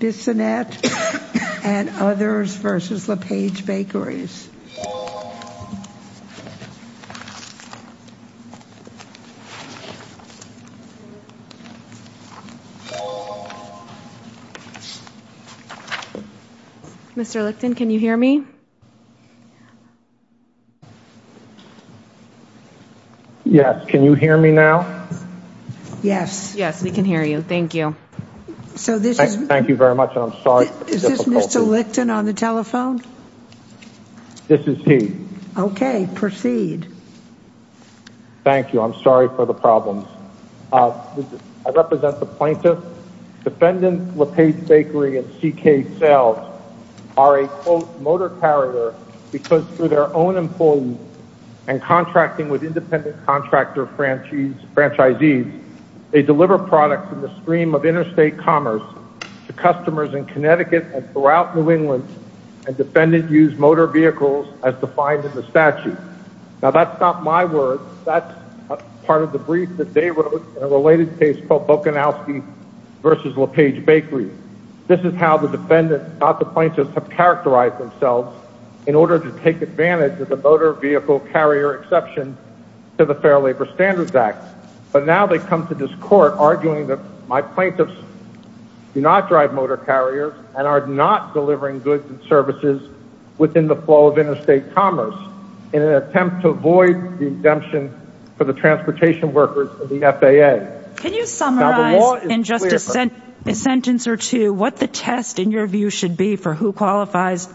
Bissonnette v. LePage Bakeries Mr. Licton, can you hear me? Yes, can you hear me now? Yes. Yes, we can hear you. Thank you. Thank you very much. I'm sorry for the difficulty. Is this Mr. Licton on the telephone? This is he. Okay, proceed. Thank you. I'm sorry for the problems. I represent the plaintiffs. Defendant LePage Bakery and C.K. Sells are a, quote, motor carrier because through their own employees and contracting with independent contractor franchisees, they deliver products in the stream of interstate commerce to customers in Connecticut and throughout New England, and defendants use motor vehicles as defined in the statute. Now, that's not my words. That's part of the brief that they wrote in a related case called Bokanowski v. LePage Bakery. This is how the defendants, not the plaintiffs, have characterized themselves in order to take advantage of the motor vehicle carrier exception to the Fair Labor Standards Act. But now they come to this court arguing that my plaintiffs do not drive motor carriers and are not delivering goods and services within the flow of interstate commerce in an attempt to avoid the exemption for the transportation workers of the FAA. Can you summarize in just a sentence or two what the test in your view should be for who qualifies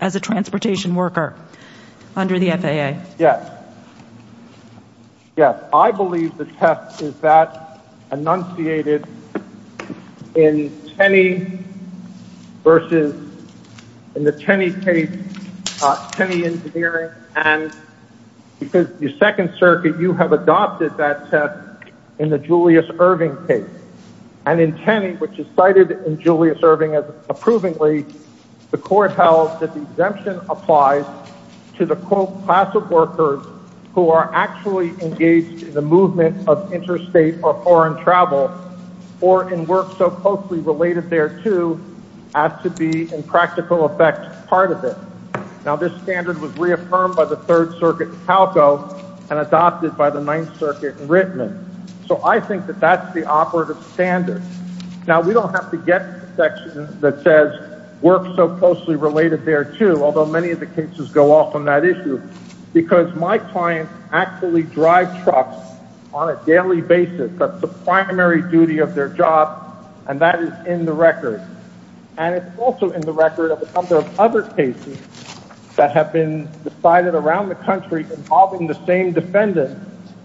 as a transportation worker under the FAA? Yes. Yes. I believe the test is that enunciated in Tenney v. in the Tenney case, Tenney Engineering, and because the Second Circuit, you have adopted that test in the Julius Irving case. And in Tenney, which is cited in Julius Irving as approvingly, the court held that the exemption applies to the, quote, class of workers who are actually engaged in the movement of interstate or foreign travel or in work so closely related thereto as to be in practical effect part of it. Now, this standard was reaffirmed by the Third Circuit in Talco and adopted by the Ninth Circuit in Rittman. So I think that that's the operative standard. Now, we don't have to get to the section that says work so closely related thereto, although many of the cases go off on that issue, because my clients actually drive trucks on a daily basis. That's the primary duty of their job, and that is in the record. And it's also in the record of a number of other cases that have been decided around the country involving the same defendant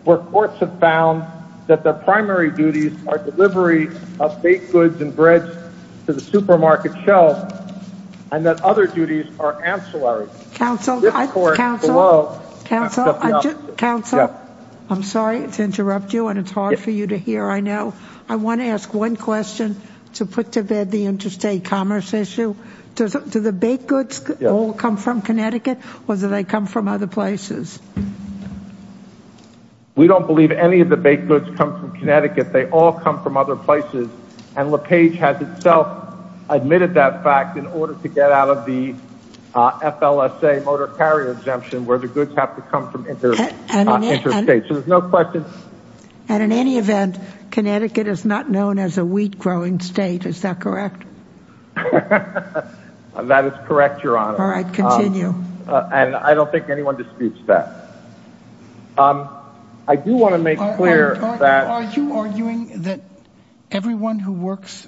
where courts have found that their primary duties are delivery of baked goods and breads to the supermarket shelf and that other duties are ancillary. Counsel, I'm sorry to interrupt you, and it's hard for you to hear. I know I want to ask one question to put to bed the interstate commerce issue. Do the baked goods all come from Connecticut or do they come from other places? We don't believe any of the baked goods come from Connecticut. They all come from other places, and LePage has itself admitted that fact in order to get out of the FLSA motor carrier exemption where the goods have to come from interstate. And in any event, Connecticut is not known as a wheat-growing state. Is that correct? That is correct, Your Honor. All right, continue. And I don't think anyone disputes that. I do want to make clear that... Are you arguing that everyone who works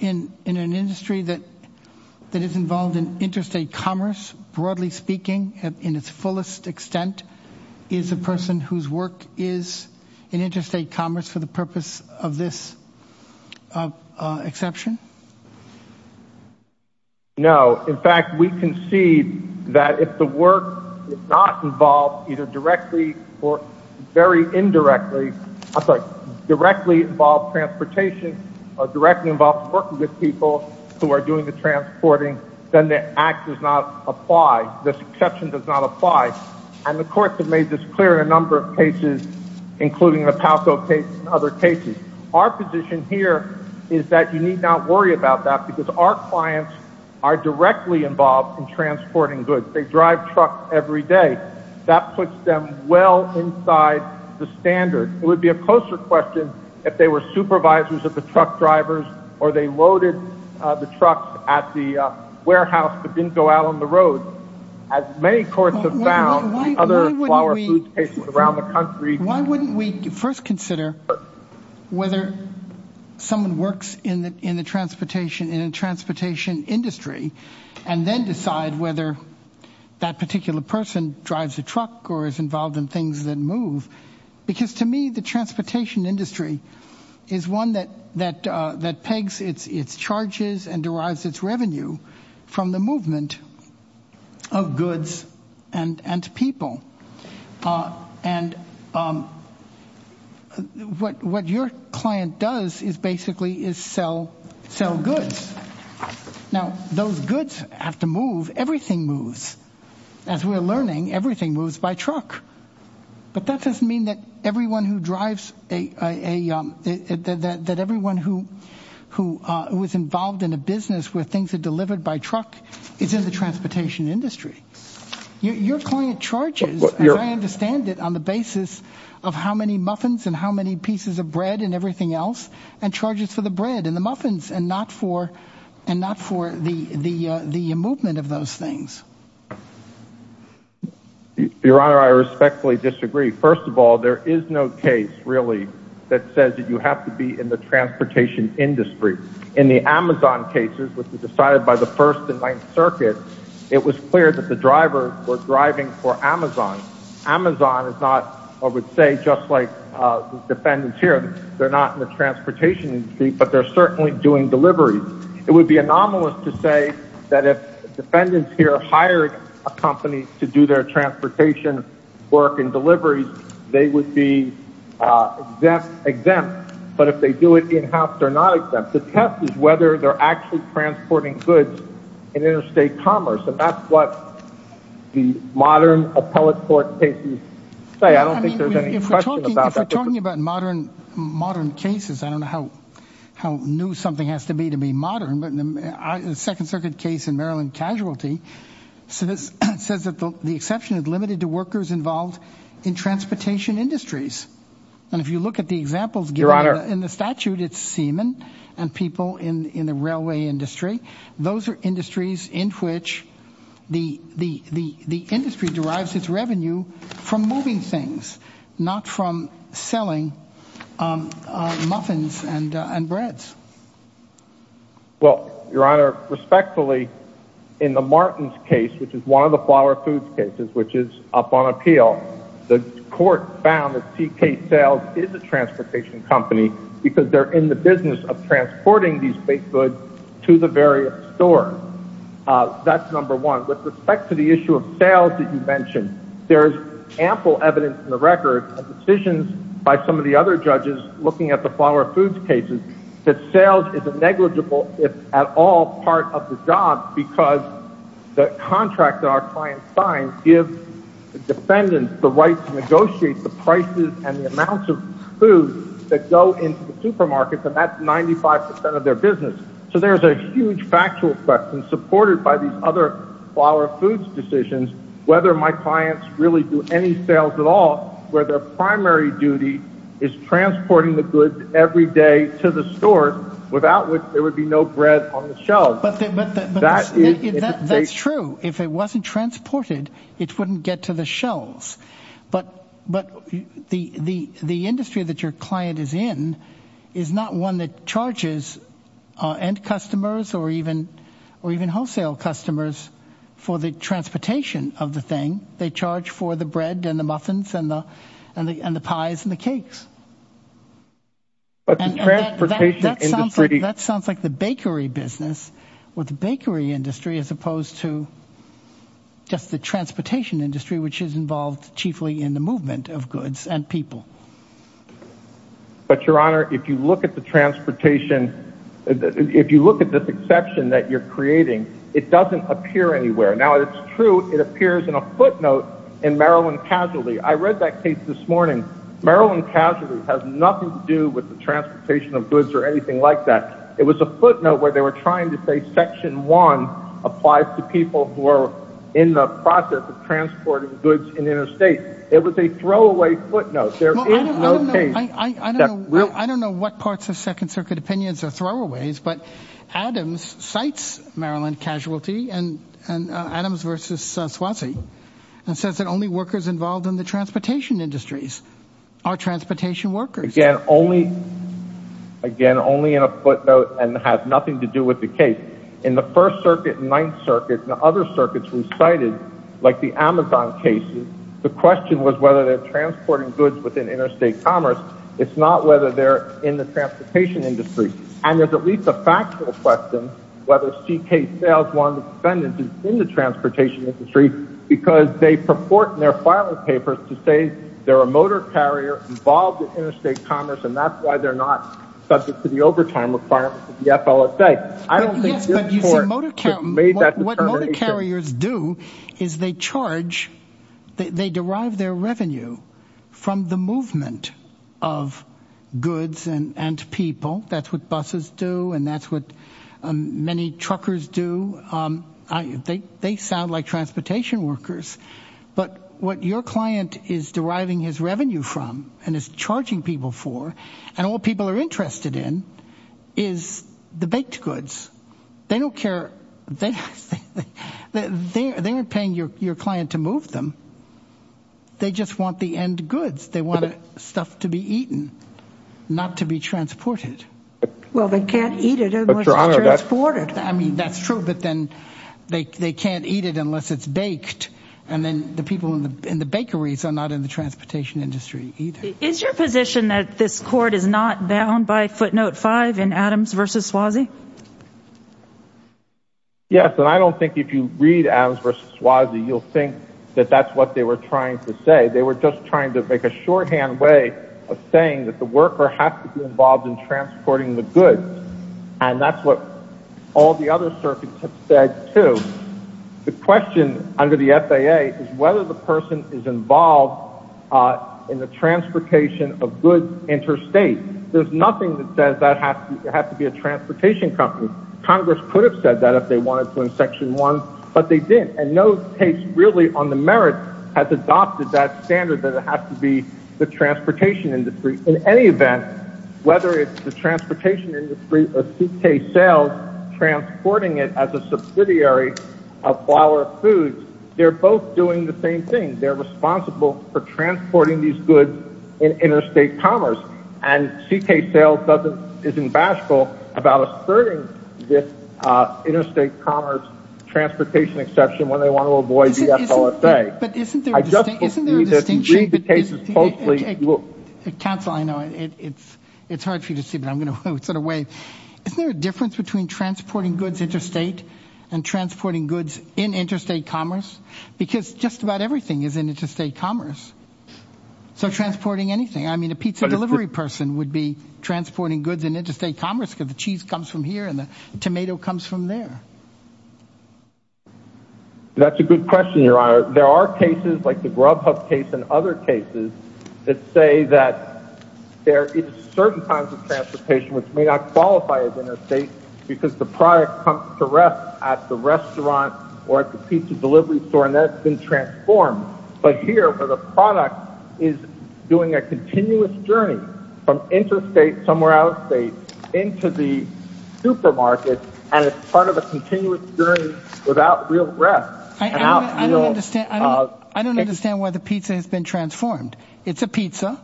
in an industry that is involved in interstate commerce, broadly speaking, in its fullest extent, is a person whose work is in interstate commerce for the purpose of this exception? No. In fact, we concede that if the work is not involved either directly or very indirectly... I'm sorry, directly involved transportation or directly involved working with people who are doing the transporting, then the act does not apply. This exception does not apply. And the courts have made this clear in a number of cases, including the Palco case and other cases. Our position here is that you need not worry about that because our clients are directly involved in transporting goods. They drive trucks every day. That puts them well inside the standard. It would be a closer question if they were supervisors of the truck drivers or they loaded the trucks at the warehouse but didn't go out on the road. As many courts have found in other flower food cases around the country... Why wouldn't we first consider whether someone works in the transportation industry and then decide whether that particular person drives a truck or is involved in things that move? Because to me, the transportation industry is one that pegs its charges and derives its revenue from the movement of goods and people. And what your client does is basically sell goods. Now, those goods have to move. Everything moves. As we're learning, everything moves by truck. But that doesn't mean that everyone who was involved in a business where things are delivered by truck is in the transportation industry. Your client charges, as I understand it, on the basis of how many muffins and how many pieces of bread and everything else and charges for the bread and the muffins and not for the movement of those things. Your Honor, I respectfully disagree. First of all, there is no case, really, that says that you have to be in the transportation industry. In the Amazon cases, which were decided by the First and Ninth Circuit, it was clear that the drivers were driving for Amazon. Amazon is not, I would say, just like the defendants here. They're not in the transportation industry, but they're certainly doing deliveries. It would be anomalous to say that if defendants here hired a company to do their transportation work and deliveries, they would be exempt. But if they do it in-house, they're not exempt. The test is whether they're actually transporting goods in interstate commerce. And that's what the modern appellate court cases say. I don't think there's any question about that. If we're talking about modern cases, I don't know how new something has to be to be modern. The Second Circuit case in Maryland casualty says that the exception is limited to workers involved in transportation industries. And if you look at the examples given in the statute, it's seamen and people in the railway industry. Those are industries in which the industry derives its revenue from moving things, not from selling muffins and breads. Well, Your Honor, respectfully, in the Martins case, which is one of the flower foods cases, which is up on appeal, the court found that TK Sales is a transportation company because they're in the business of transporting these baked goods to the various stores. That's number one. With respect to the issue of sales that you mentioned, there is ample evidence in the record of decisions by some of the other judges looking at the flower foods cases that sales is a negligible, if at all, part of the job because the contract that our clients sign gives the defendants the right to negotiate the prices and the amounts of food that go into the supermarkets, and that's 95 percent of their business. So there's a huge factual question supported by these other flower foods decisions, whether my clients really do any sales at all, where their primary duty is transporting the goods every day to the store, without which there would be no bread on the shelves. That's true. If it wasn't transported, it wouldn't get to the shelves. But the industry that your client is in is not one that charges end customers or even wholesale customers for the transportation of the thing. They charge for the bread and the muffins and the pies and the cakes. That sounds like the bakery business with the bakery industry as opposed to just the transportation industry, which is involved chiefly in the movement of goods and people. But, Your Honor, if you look at the transportation, if you look at this exception that you're creating, it doesn't appear anywhere. Now, it's true it appears in a footnote in Maryland Casualty. I read that case this morning. Maryland Casualty has nothing to do with the transportation of goods or anything like that. It was a footnote where they were trying to say Section 1 applies to people who are in the process of transporting goods in interstate. It was a throwaway footnote. There is no case. I don't know what parts of Second Circuit opinions are throwaways, but Adams cites Maryland Casualty and Adams v. Swansea and says that only workers involved in the transportation industries are transportation workers. Again, only in a footnote and has nothing to do with the case. In the First Circuit and Ninth Circuit and other circuits we cited, like the Amazon cases, the question was whether they're transporting goods within interstate commerce. It's not whether they're in the transportation industry. And there's at least a factual question whether C.K. Sales, one of the defendants, is in the transportation industry because they purport in their filing papers to say they're a motor carrier involved in interstate commerce and that's why they're not subject to the overtime requirements of the FLSA. What motor carriers do is they charge, they derive their revenue from the movement of goods and people. That's what buses do and that's what many truckers do. They sound like transportation workers, but what your client is deriving his revenue from and is charging people for and what people are interested in is the baked goods. They don't care. They aren't paying your client to move them. They just want the end goods. They want stuff to be eaten, not to be transported. Well, they can't eat it unless it's transported. I mean, that's true, but then they can't eat it unless it's baked. And then the people in the bakeries are not in the transportation industry either. Is your position that this court is not bound by footnote 5 in Adams v. Swasey? Yes, and I don't think if you read Adams v. Swasey you'll think that that's what they were trying to say. They were just trying to make a shorthand way of saying that the worker has to be involved in transporting the goods. And that's what all the other circuits have said too. The question under the FAA is whether the person is involved in the transportation of goods interstate. There's nothing that says that has to be a transportation company. Congress could have said that if they wanted to in Section 1, but they didn't. And no case really on the merit has adopted that standard that it has to be the transportation industry. In any event, whether it's the transportation industry or C.K. Sales transporting it as a subsidiary of Flower Foods, they're both doing the same thing. They're responsible for transporting these goods in interstate commerce. And C.K. Sales isn't bashful about asserting this interstate commerce transportation exception when they want to avoid the FLSA. But isn't there a distinction? Counsel, I know it's hard for you to see, but I'm going to sort of wave. Isn't there a difference between transporting goods interstate and transporting goods in interstate commerce? Because just about everything is in interstate commerce. So transporting anything, I mean a pizza delivery person would be transporting goods in interstate commerce because the cheese comes from here and the tomato comes from there. That's a good question, Your Honor. There are cases like the Grubhub case and other cases that say that there is certain kinds of transportation which may not qualify as interstate because the product comes to rest at the restaurant or at the pizza delivery store and that's been transformed. But here, where the product is doing a continuous journey from interstate somewhere out of state into the supermarket and it's part of a continuous journey without real rest. I don't understand why the pizza has been transformed. It's a pizza.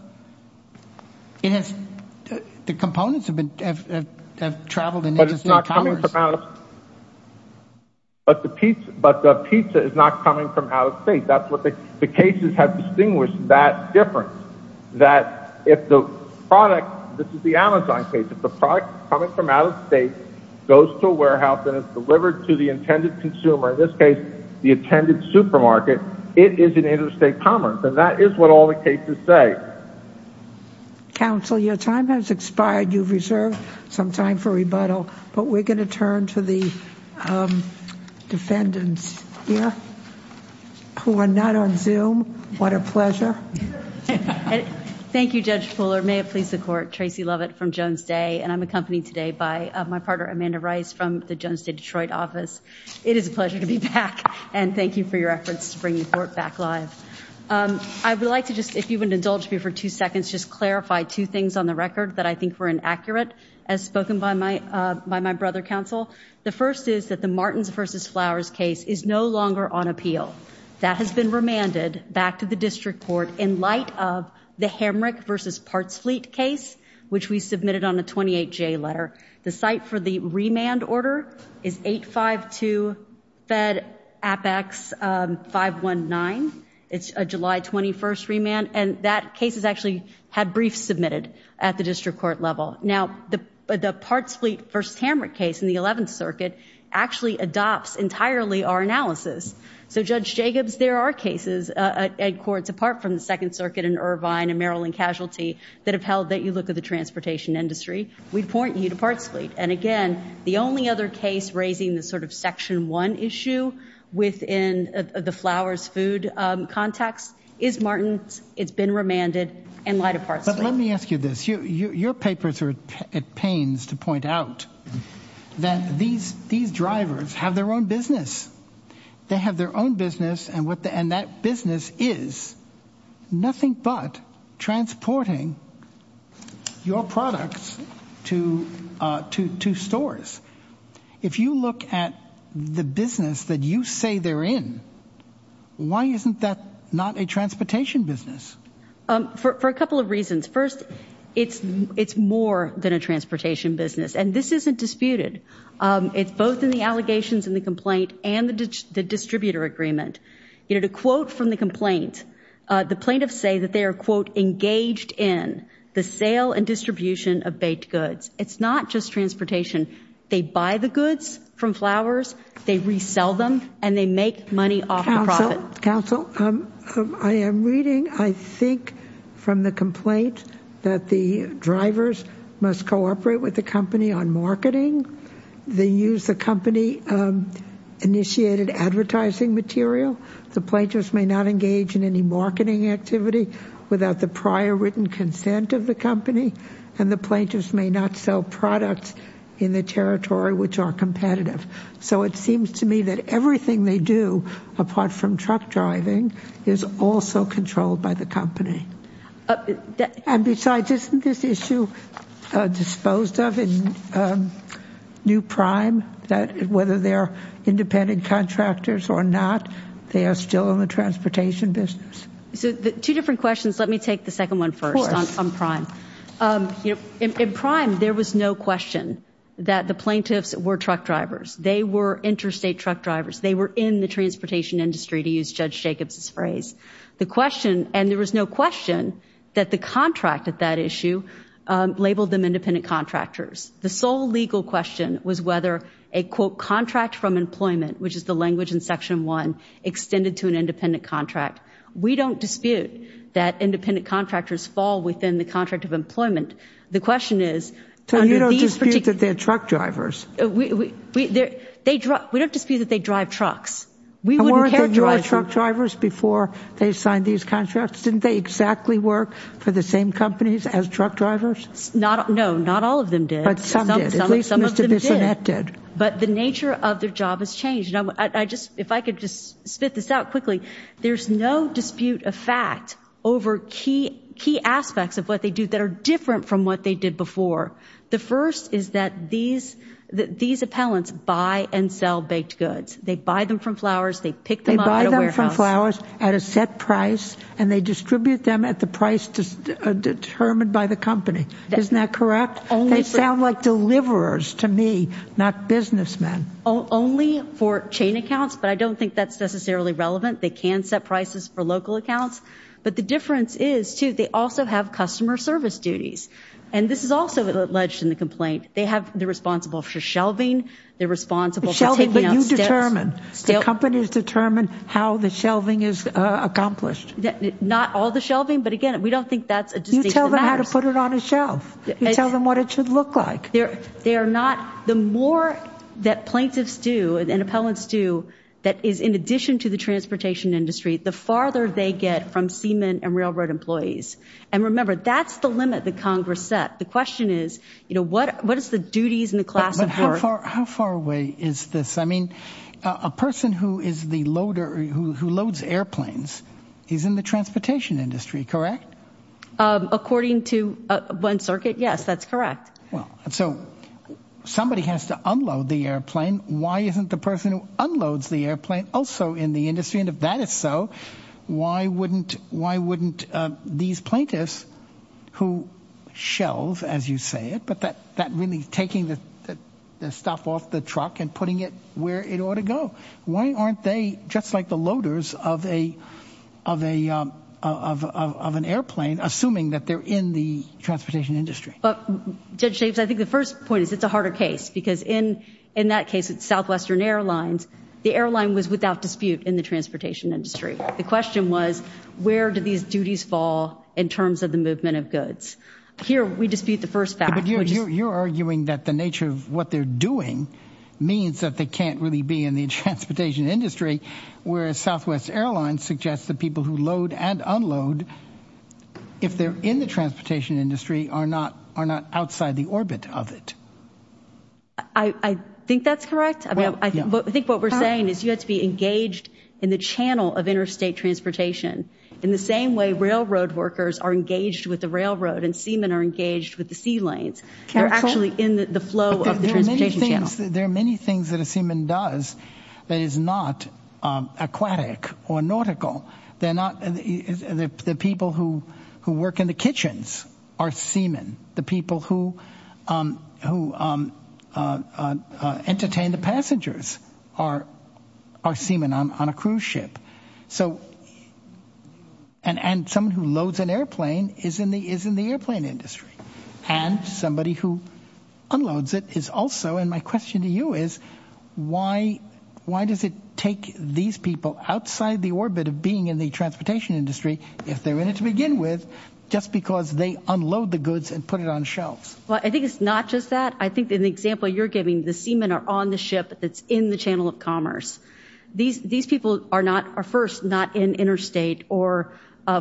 The components have traveled in interstate commerce. But it's not coming from out of state. But the pizza is not coming from out of state. The cases have distinguished that difference. That if the product, this is the Amazon case, if the product is coming from out of state, goes to a warehouse and is delivered to the intended consumer, in this case the intended supermarket, it is in interstate commerce and that is what all the cases say. Counsel, your time has expired. You've reserved some time for rebuttal. But we're going to turn to the defendants here who are not on Zoom. What a pleasure. Thank you, Judge Fuller. May it please the court. Tracy Lovett from Jones Day. And I'm accompanied today by my partner Amanda Rice from the Jones Day Detroit office. It is a pleasure to be back. And thank you for your efforts to bring the court back live. I would like to just, if you wouldn't indulge me for two seconds, just clarify two things on the record that I think were inaccurate as spoken by my brother, counsel. The first is that the Martins v. Flowers case is no longer on appeal. That has been remanded back to the district court in light of the Hamrick v. Parts Fleet case, which we submitted on a 28-J letter. The site for the remand order is 852 Fed Apex 519. It's a July 21st remand. And that case has actually had briefs submitted at the district court level. Now, the Parts Fleet v. Hamrick case in the 11th Circuit actually adopts entirely our analysis. So, Judge Jacobs, there are cases at courts apart from the 2nd Circuit and Irvine and Maryland casualty that have held that you look at the transportation industry. We point you to Parts Fleet. And, again, the only other case raising the sort of Section 1 issue within the Flowers food context is Martins. It's been remanded in light of Parts Fleet. But let me ask you this. Your papers are at pains to point out that these drivers have their own business. They have their own business. And that business is nothing but transporting your products to stores. If you look at the business that you say they're in, why isn't that not a transportation business? For a couple of reasons. First, it's more than a transportation business. And this isn't disputed. It's both in the allegations in the complaint and the distributor agreement. You know, to quote from the complaint, the plaintiffs say that they are, quote, engaged in the sale and distribution of baked goods. It's not just transportation. They buy the goods from Flowers. They resell them. And they make money off the profit. Counsel, I am reading, I think, from the complaint that the drivers must cooperate with the company on marketing. They use the company-initiated advertising material. The plaintiffs may not engage in any marketing activity without the prior written consent of the company. And the plaintiffs may not sell products in the territory which are competitive. So it seems to me that everything they do, apart from truck driving, is also controlled by the company. And besides, isn't this issue disposed of in New Prime, that whether they're independent contractors or not, they are still in the transportation business? So two different questions. Let me take the second one first on Prime. In Prime, there was no question that the plaintiffs were truck drivers. They were interstate truck drivers. They were in the transportation industry, to use Judge Jacobs' phrase. The question, and there was no question, that the contract at that issue labeled them independent contractors. The sole legal question was whether a, quote, contract from employment, which is the language in Section 1, extended to an independent contract. We don't dispute that independent contractors fall within the contract of employment. The question is, under these particular- So you don't dispute that they're truck drivers? We don't dispute that they drive trucks. And weren't they truck drivers before they signed these contracts? Didn't they exactly work for the same companies as truck drivers? No, not all of them did. But some did. At least Mr. Bissonnette did. But the nature of their job has changed. If I could just spit this out quickly, there's no dispute of fact over key aspects of what they do that are different from what they did before. The first is that these appellants buy and sell baked goods. They buy them from Flowers. They pick them up at a warehouse. They buy them from Flowers at a set price, and they distribute them at the price determined by the company. Isn't that correct? They sound like deliverers to me, not businessmen. Only for chain accounts, but I don't think that's necessarily relevant. They can set prices for local accounts. But the difference is, too, they also have customer service duties. And this is also alleged in the complaint. They're responsible for shelving. They're responsible for taking out steps. But you determine. The companies determine how the shelving is accomplished. Not all the shelving, but, again, we don't think that's a distinction that matters. You tell them how to put it on a shelf. You tell them what it should look like. The more that plaintiffs do and appellants do that is in addition to the transportation industry, the farther they get from seamen and railroad employees. And remember, that's the limit that Congress set. The question is, what is the duties and the class of work? But how far away is this? I mean, a person who loads airplanes is in the transportation industry, correct? According to One Circuit, yes, that's correct. And so somebody has to unload the airplane. Why isn't the person who unloads the airplane also in the industry? And if that is so, why wouldn't these plaintiffs who shelve, as you say it, but that really taking the stuff off the truck and putting it where it ought to go, why aren't they just like the loaders of an airplane, assuming that they're in the transportation industry? But Judge Jacobs, I think the first point is it's a harder case because in that case with Southwestern Airlines, the airline was without dispute in the transportation industry. The question was, where do these duties fall in terms of the movement of goods? Here we dispute the first fact. But you're arguing that the nature of what they're doing means that they can't really be in the transportation industry, whereas Southwest Airlines suggests that people who load and unload, if they're in the transportation industry, are not outside the orbit of it. I think that's correct. I think what we're saying is you have to be engaged in the channel of interstate transportation in the same way railroad workers are engaged with the railroad and seamen are engaged with the sea lanes. They're actually in the flow of the transportation channel. There are many things that a seaman does that is not aquatic or nautical. The people who work in the kitchens are seamen. The people who entertain the passengers are seamen on a cruise ship. And someone who loads an airplane is in the airplane industry. And somebody who unloads it is also, and my question to you is, why does it take these people outside the orbit of being in the transportation industry, if they're in it to begin with, just because they unload the goods and put it on shelves? I think it's not just that. I think in the example you're giving, the seamen are on the ship that's in the channel of commerce. These people are first not in interstate or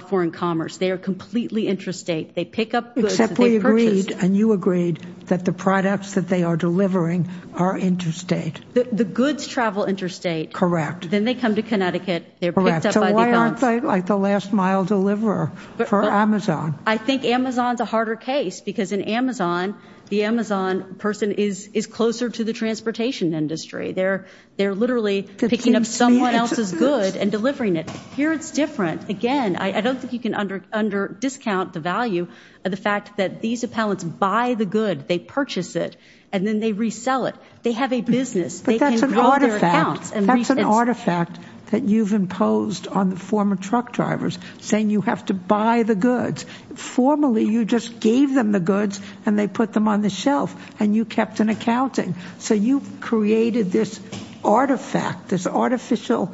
foreign commerce. They are completely interstate. Except we agreed and you agreed that the products that they are delivering are interstate. The goods travel interstate. Correct. Then they come to Connecticut. Correct. So why aren't they like the last mile deliverer for Amazon? I think Amazon's a harder case because in Amazon, the Amazon person is closer to the transportation industry. They're literally picking up someone else's goods and delivering it. Here it's different. Again, I don't think you can under discount the value of the fact that these appellants buy the good, they purchase it, and then they resell it. They have a business. But that's an artifact. That's an artifact that you've imposed on the former truck drivers, saying you have to buy the goods. Formally, you just gave them the goods and they put them on the shelf, and you kept an accounting. So you've created this artifact, this artificial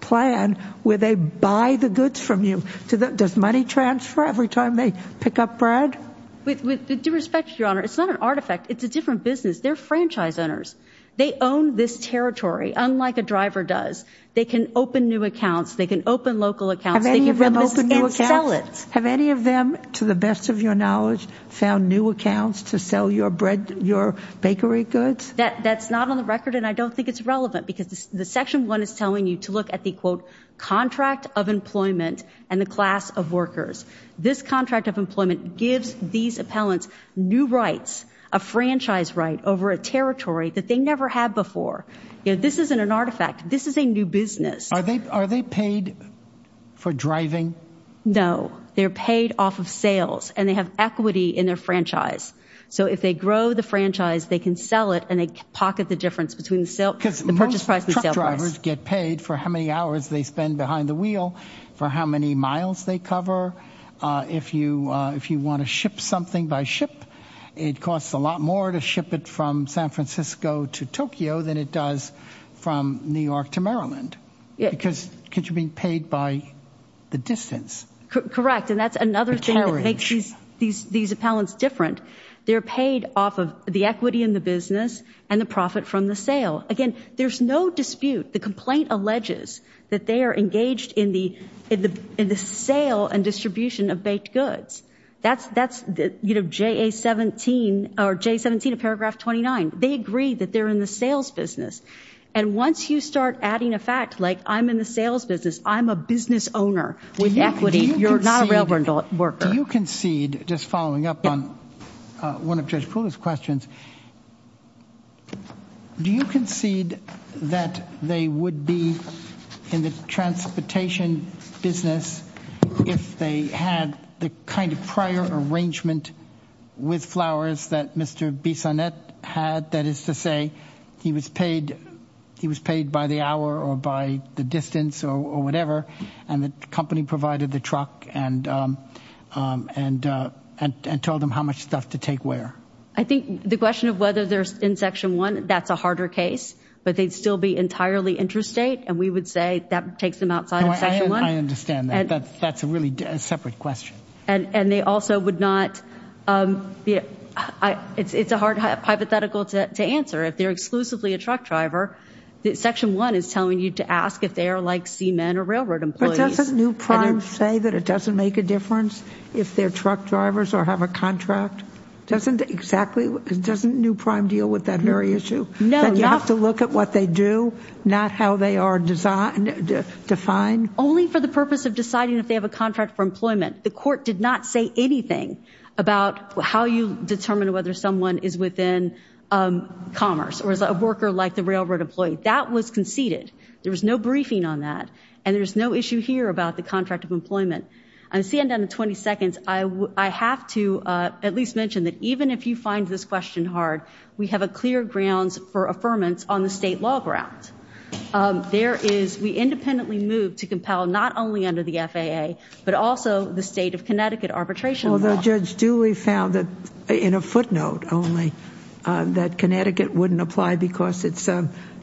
plan where they buy the goods from you. Does money transfer every time they pick up bread? With due respect, Your Honor, it's not an artifact. It's a different business. They're franchise owners. They own this territory, unlike a driver does. They can open new accounts. They can open local accounts. Have any of them opened new accounts? And sell it. Your bakery goods? That's not on the record, and I don't think it's relevant. Because the Section 1 is telling you to look at the, quote, contract of employment and the class of workers. This contract of employment gives these appellants new rights, a franchise right over a territory that they never had before. This isn't an artifact. This is a new business. Are they paid for driving? No. They're paid off of sales, and they have equity in their franchise. So if they grow the franchise, they can sell it, and they pocket the difference between the purchase price and the sale price. Because most truck drivers get paid for how many hours they spend behind the wheel, for how many miles they cover. If you want to ship something by ship, it costs a lot more to ship it from San Francisco to Tokyo than it does from New York to Maryland. Because you're being paid by the distance. Correct, and that's another thing that makes these appellants different. They're paid off of the equity in the business and the profit from the sale. Again, there's no dispute. The complaint alleges that they are engaged in the sale and distribution of baked goods. That's, you know, J17 of paragraph 29. They agree that they're in the sales business. And once you start adding a fact like I'm in the sales business, I'm a business owner with equity, you're not a railroad worker. Do you concede, just following up on one of Judge Poole's questions, do you concede that they would be in the transportation business if they had the kind of prior arrangement with flowers that Mr. Bissonnette had? That is to say, he was paid by the hour or by the distance or whatever, and the company provided the truck and told him how much stuff to take where? I think the question of whether they're in Section 1, that's a harder case. But they'd still be entirely interstate, and we would say that takes them outside of Section 1. I understand that. That's a really separate question. And they also would not—it's a hard hypothetical to answer. If they're exclusively a truck driver, Section 1 is telling you to ask if they are like seamen or railroad employees. But doesn't New Prime say that it doesn't make a difference if they're truck drivers or have a contract? Doesn't exactly—doesn't New Prime deal with that very issue? No, not— That you have to look at what they do, not how they are defined? Only for the purpose of deciding if they have a contract for employment. The court did not say anything about how you determine whether someone is within commerce or is a worker like the railroad employee. That was conceded. There was no briefing on that, and there's no issue here about the contract of employment. I'm going to see you in 20 seconds. I have to at least mention that even if you find this question hard, we have clear grounds for affirmance on the state law ground. There is—we independently moved to compel not only under the FAA, but also the state of Connecticut arbitration law. Although Judge Dewey found that, in a footnote only, that Connecticut wouldn't apply because it's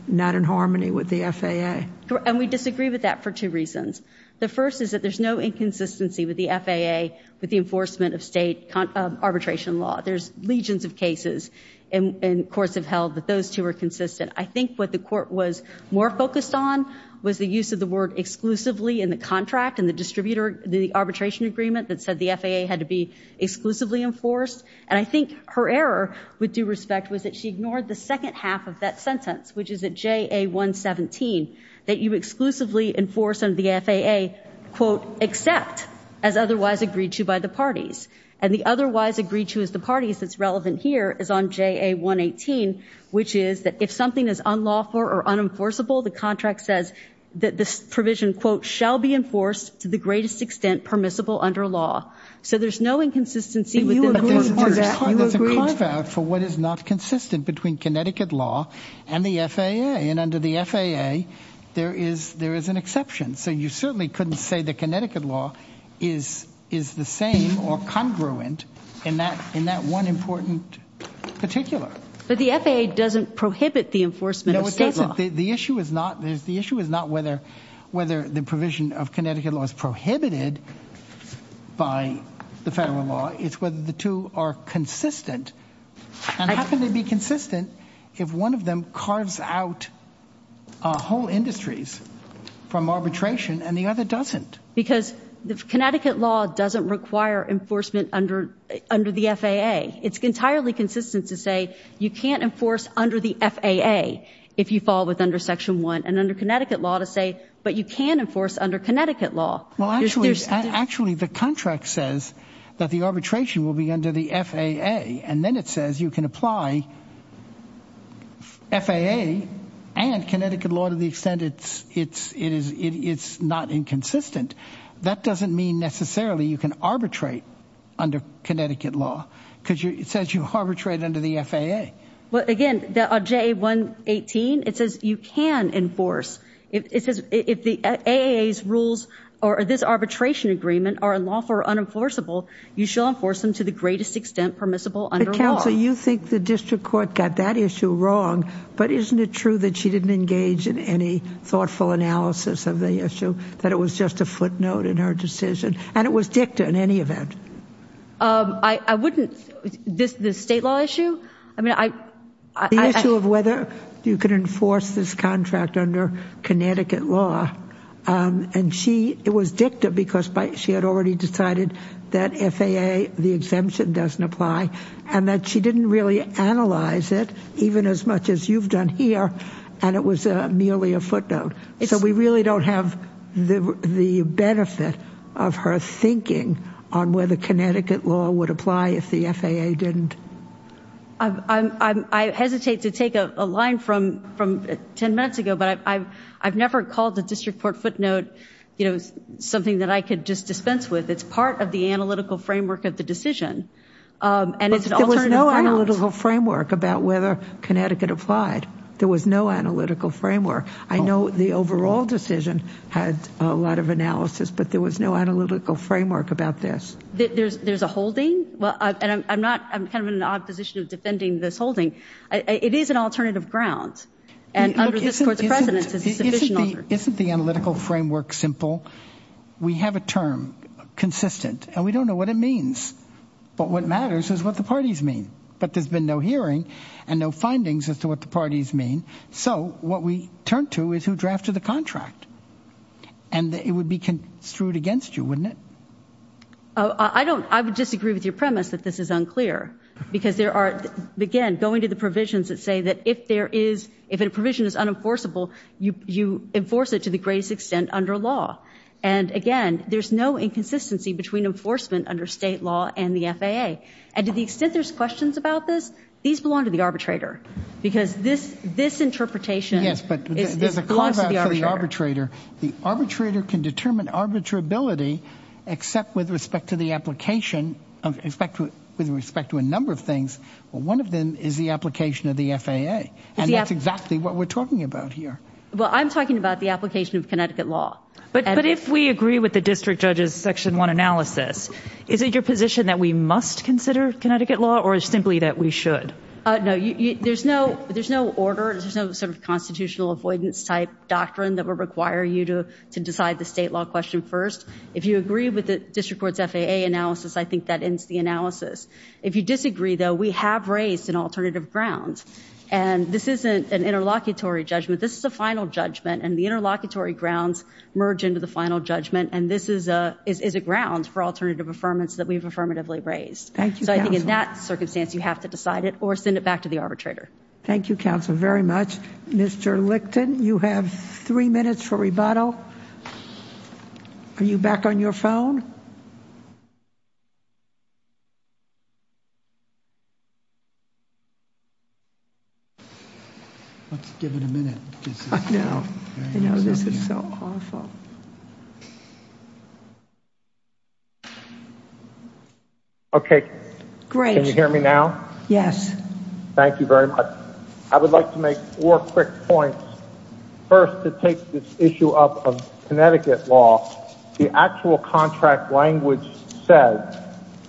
not in harmony with the FAA. And we disagree with that for two reasons. The first is that there's no inconsistency with the FAA with the enforcement of state arbitration law. There's legions of cases, and courts have held that those two are consistent. I think what the court was more focused on was the use of the word exclusively in the contract and the distributor—the arbitration agreement that said the FAA had to be exclusively enforced. And I think her error, with due respect, was that she ignored the second half of that sentence, which is at JA117, that you exclusively enforce under the FAA, quote, except as otherwise agreed to by the parties. And the otherwise agreed to as the parties that's relevant here is on JA118, which is that if something is unlawful or unenforceable, the contract says that this provision, quote, shall be enforced to the greatest extent permissible under law. So there's no inconsistency with the court. But there's a contract for what is not consistent between Connecticut law and the FAA. And under the FAA, there is an exception. So you certainly couldn't say that Connecticut law is the same or congruent in that one important particular. But the FAA doesn't prohibit the enforcement of state law. No, it doesn't. The issue is not whether the provision of Connecticut law is prohibited by the federal law. It's whether the two are consistent. And it happens to be consistent if one of them carves out whole industries from arbitration and the other doesn't. Because Connecticut law doesn't require enforcement under the FAA. It's entirely consistent to say you can't enforce under the FAA if you fall with under Section 1. And under Connecticut law to say, but you can enforce under Connecticut law. Well, actually, the contract says that the arbitration will be under the FAA. And then it says you can apply FAA and Connecticut law to the extent it's not inconsistent. That doesn't mean necessarily you can arbitrate under Connecticut law because it says you arbitrate under the FAA. Well, again, the J-118, it says you can enforce it. It says if the rules or this arbitration agreement are unlawful or unenforceable, you shall enforce them to the greatest extent permissible under law. So you think the district court got that issue wrong. But isn't it true that she didn't engage in any thoughtful analysis of the issue, that it was just a footnote in her decision? And it was dicta in any event. I wouldn't this the state law issue. I mean, I. The issue of whether you can enforce this contract under Connecticut law. And she it was dicta because she had already decided that FAA, the exemption doesn't apply, and that she didn't really analyze it even as much as you've done here. And it was merely a footnote. So we really don't have the benefit of her thinking on whether Connecticut law would apply if the FAA didn't. I hesitate to take a line from from 10 minutes ago, but I've never called the district court footnote something that I could just dispense with. It's part of the analytical framework of the decision. And there was no analytical framework about whether Connecticut applied. There was no analytical framework. I know the overall decision had a lot of analysis, but there was no analytical framework about this. There's there's a holding. Well, I'm not I'm kind of in an odd position of defending this holding. It is an alternative grounds. Isn't the analytical framework simple? We have a term consistent and we don't know what it means. But what matters is what the parties mean. But there's been no hearing and no findings as to what the parties mean. So what we turn to is who drafted the contract. And it would be construed against you, wouldn't it? I don't I would disagree with your premise that this is unclear because there are, again, going to the provisions that say that if there is if a provision is unenforceable, you enforce it to the greatest extent under law. And again, there's no inconsistency between enforcement under state law and the FAA. And to the extent there's questions about this, these belong to the arbitrator because this this interpretation. Yes, but there's a cost for the arbitrator. The arbitrator can determine arbitrability except with respect to the application of respect to with respect to a number of things. Well, one of them is the application of the FAA. And that's exactly what we're talking about here. Well, I'm talking about the application of Connecticut law. But if we agree with the district judge's section one analysis, is it your position that we must consider Connecticut law or simply that we should? No, there's no there's no order. There's no sort of constitutional avoidance type doctrine that would require you to to decide the state law question first. If you agree with the district court's FAA analysis, I think that ends the analysis. If you disagree, though, we have raised an alternative grounds. And this isn't an interlocutory judgment. This is a final judgment. And the interlocutory grounds merge into the final judgment. And this is a is a ground for alternative affirmance that we've affirmatively raised. Thank you. So I think in that circumstance, you have to decide it or send it back to the arbitrator. Thank you, counsel, very much. Mr. Lichten, you have three minutes for rebuttal. Are you back on your phone? Let's give it a minute. I know. You know, this is so awful. Okay. Great. Can you hear me now? Yes. Thank you very much. I would like to make four quick points. First, to take this issue up of Connecticut law. The actual contract language says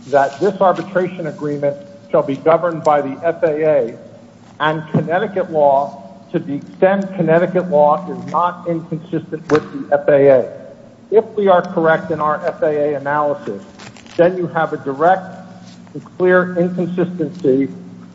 that this arbitration agreement shall be governed by the FAA. And Connecticut law, to the extent Connecticut law is not inconsistent with the FAA, if we are correct in our FAA analysis, then you have a direct and clear inconsistency.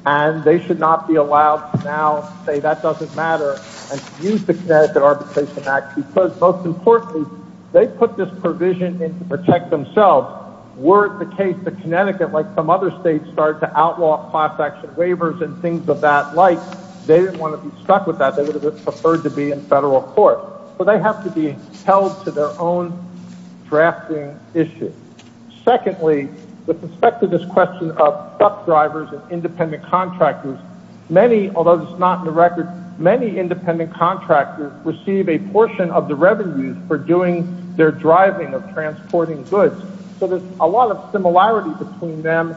And they should not be allowed to now say that doesn't matter and use the Connecticut Arbitration Act. Because, most importantly, they put this provision in to protect themselves. Were it the case that Connecticut, like some other states, started to outlaw class action waivers and things of that like, they didn't want to be stuck with that. They would have preferred to be in federal court. But they have to be held to their own drafting issues. Secondly, with respect to this question of truck drivers and independent contractors, many, although this is not in the record, many independent contractors receive a portion of the revenues for doing their driving of transporting goods. So there's a lot of similarity between them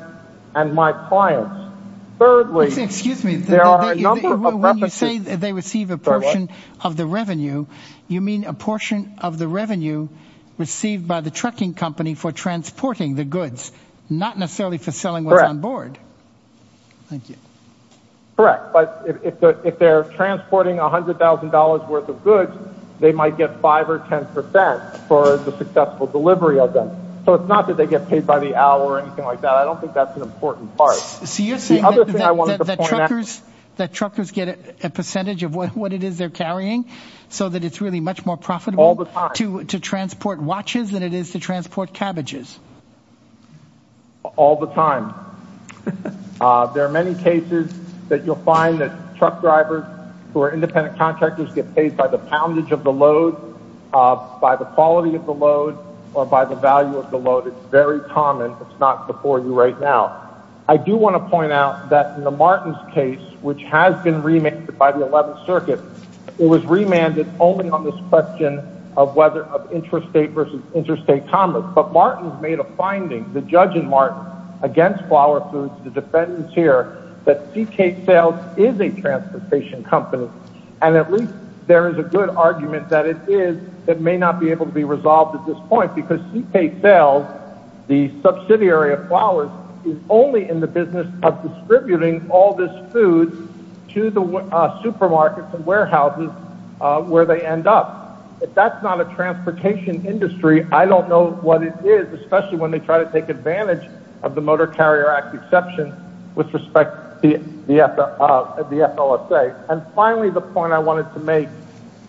and my clients. Excuse me. When you say they receive a portion of the revenue, you mean a portion of the revenue received by the trucking company for transporting the goods, not necessarily for selling what's on board. Correct. Thank you. Correct. But if they're transporting $100,000 worth of goods, they might get 5 or 10% for the successful delivery of them. So it's not that they get paid by the hour or anything like that. I don't think that's an important part. So you're saying that truckers get a percentage of what it is they're carrying, so that it's really much more profitable to transport watches than it is to transport cabbages. All the time. There are many cases that you'll find that truck drivers who are independent contractors get paid by the poundage of the load, by the quality of the load, or by the value of the load. It's very common. It's not before you right now. I do want to point out that in the Martins case, which has been remanded by the 11th Circuit, it was remanded only on this question of interstate commerce. But Martins made a finding, the judge in Martins, against Flower Foods, the defendants here, that Seacake Sales is a transportation company. And at least there is a good argument that it is. It may not be able to be resolved at this point because Seacake Sales, the subsidiary of Flowers, is only in the business of distributing all this food to the supermarkets and warehouses where they end up. If that's not a transportation industry, I don't know what it is, especially when they try to take advantage of the Motor Carrier Act exception with respect to the FLSA. And finally, the point I wanted to make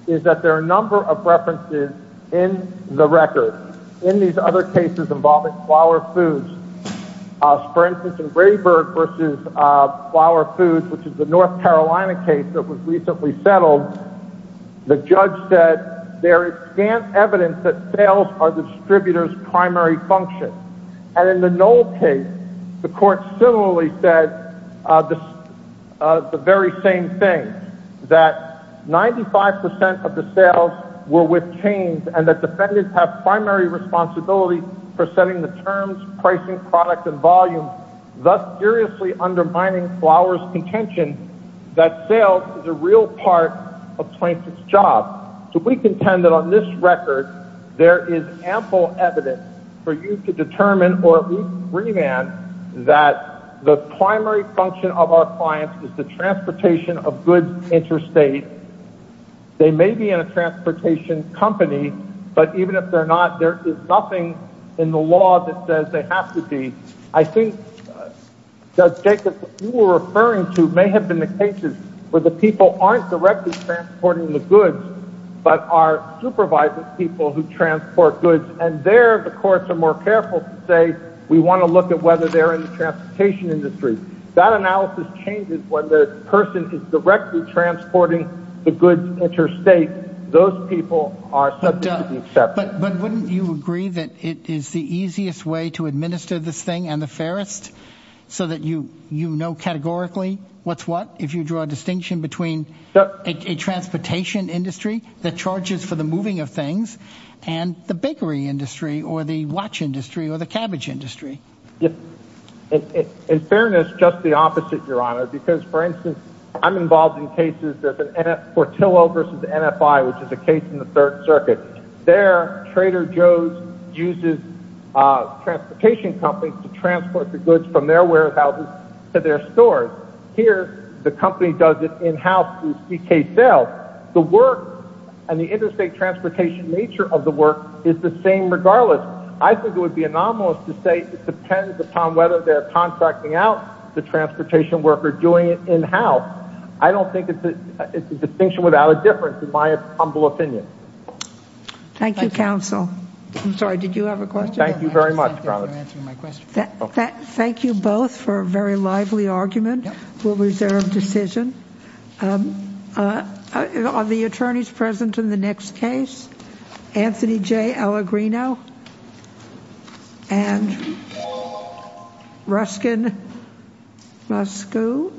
is that there are a number of references in the record. In these other cases involving Flower Foods, for instance, in Grayberg v. Flower Foods, which is the North Carolina case that was recently settled, the judge said there is scant evidence that sales are the distributor's primary function. And in the Knoll case, the court similarly said the very same thing, that 95 percent of the sales were with chains, and that defendants have primary responsibility for setting the terms, pricing, product, and volume, thus seriously undermining Flowers' contention that sales is a real part of a plaintiff's job. So we contend that on this record, there is ample evidence for you to determine, or at least remand, that the primary function of our clients is the transportation of goods interstate. They may be in a transportation company, but even if they're not, there is nothing in the law that says they have to be. I think, Judge Jacobs, what you were referring to may have been the cases where the people aren't directly transporting the goods, but are supervising people who transport goods. And there, the courts are more careful to say, we want to look at whether they're in the transportation industry. That analysis changes when the person is directly transporting the goods interstate. Those people are subject to be accepted. But wouldn't you agree that it is the easiest way to administer this thing and the fairest, so that you know categorically what's what, if you draw a distinction between a transportation industry that charges for the moving of things and the bakery industry or the watch industry or the cabbage industry? Yes. In fairness, just the opposite, Your Honor, because, for instance, I'm involved in cases of Portillo v. NFI, which is a case in the Third Circuit. There, Trader Joe's uses transportation companies to transport the goods from their warehouses to their stores. Here, the company does it in-house through CKCEL. The work and the interstate transportation nature of the work is the same regardless. I think it would be anomalous to say it depends upon whether they're contracting out the transportation work or doing it in-house. I don't think it's a distinction without a difference, in my humble opinion. Thank you, counsel. I'm sorry, did you have a question? Thank you very much, Your Honor. Thank you both for a very lively argument. We'll reserve decision. Are the attorneys present in the next case? Anthony J. Allegrino and Ruskin Ruscu.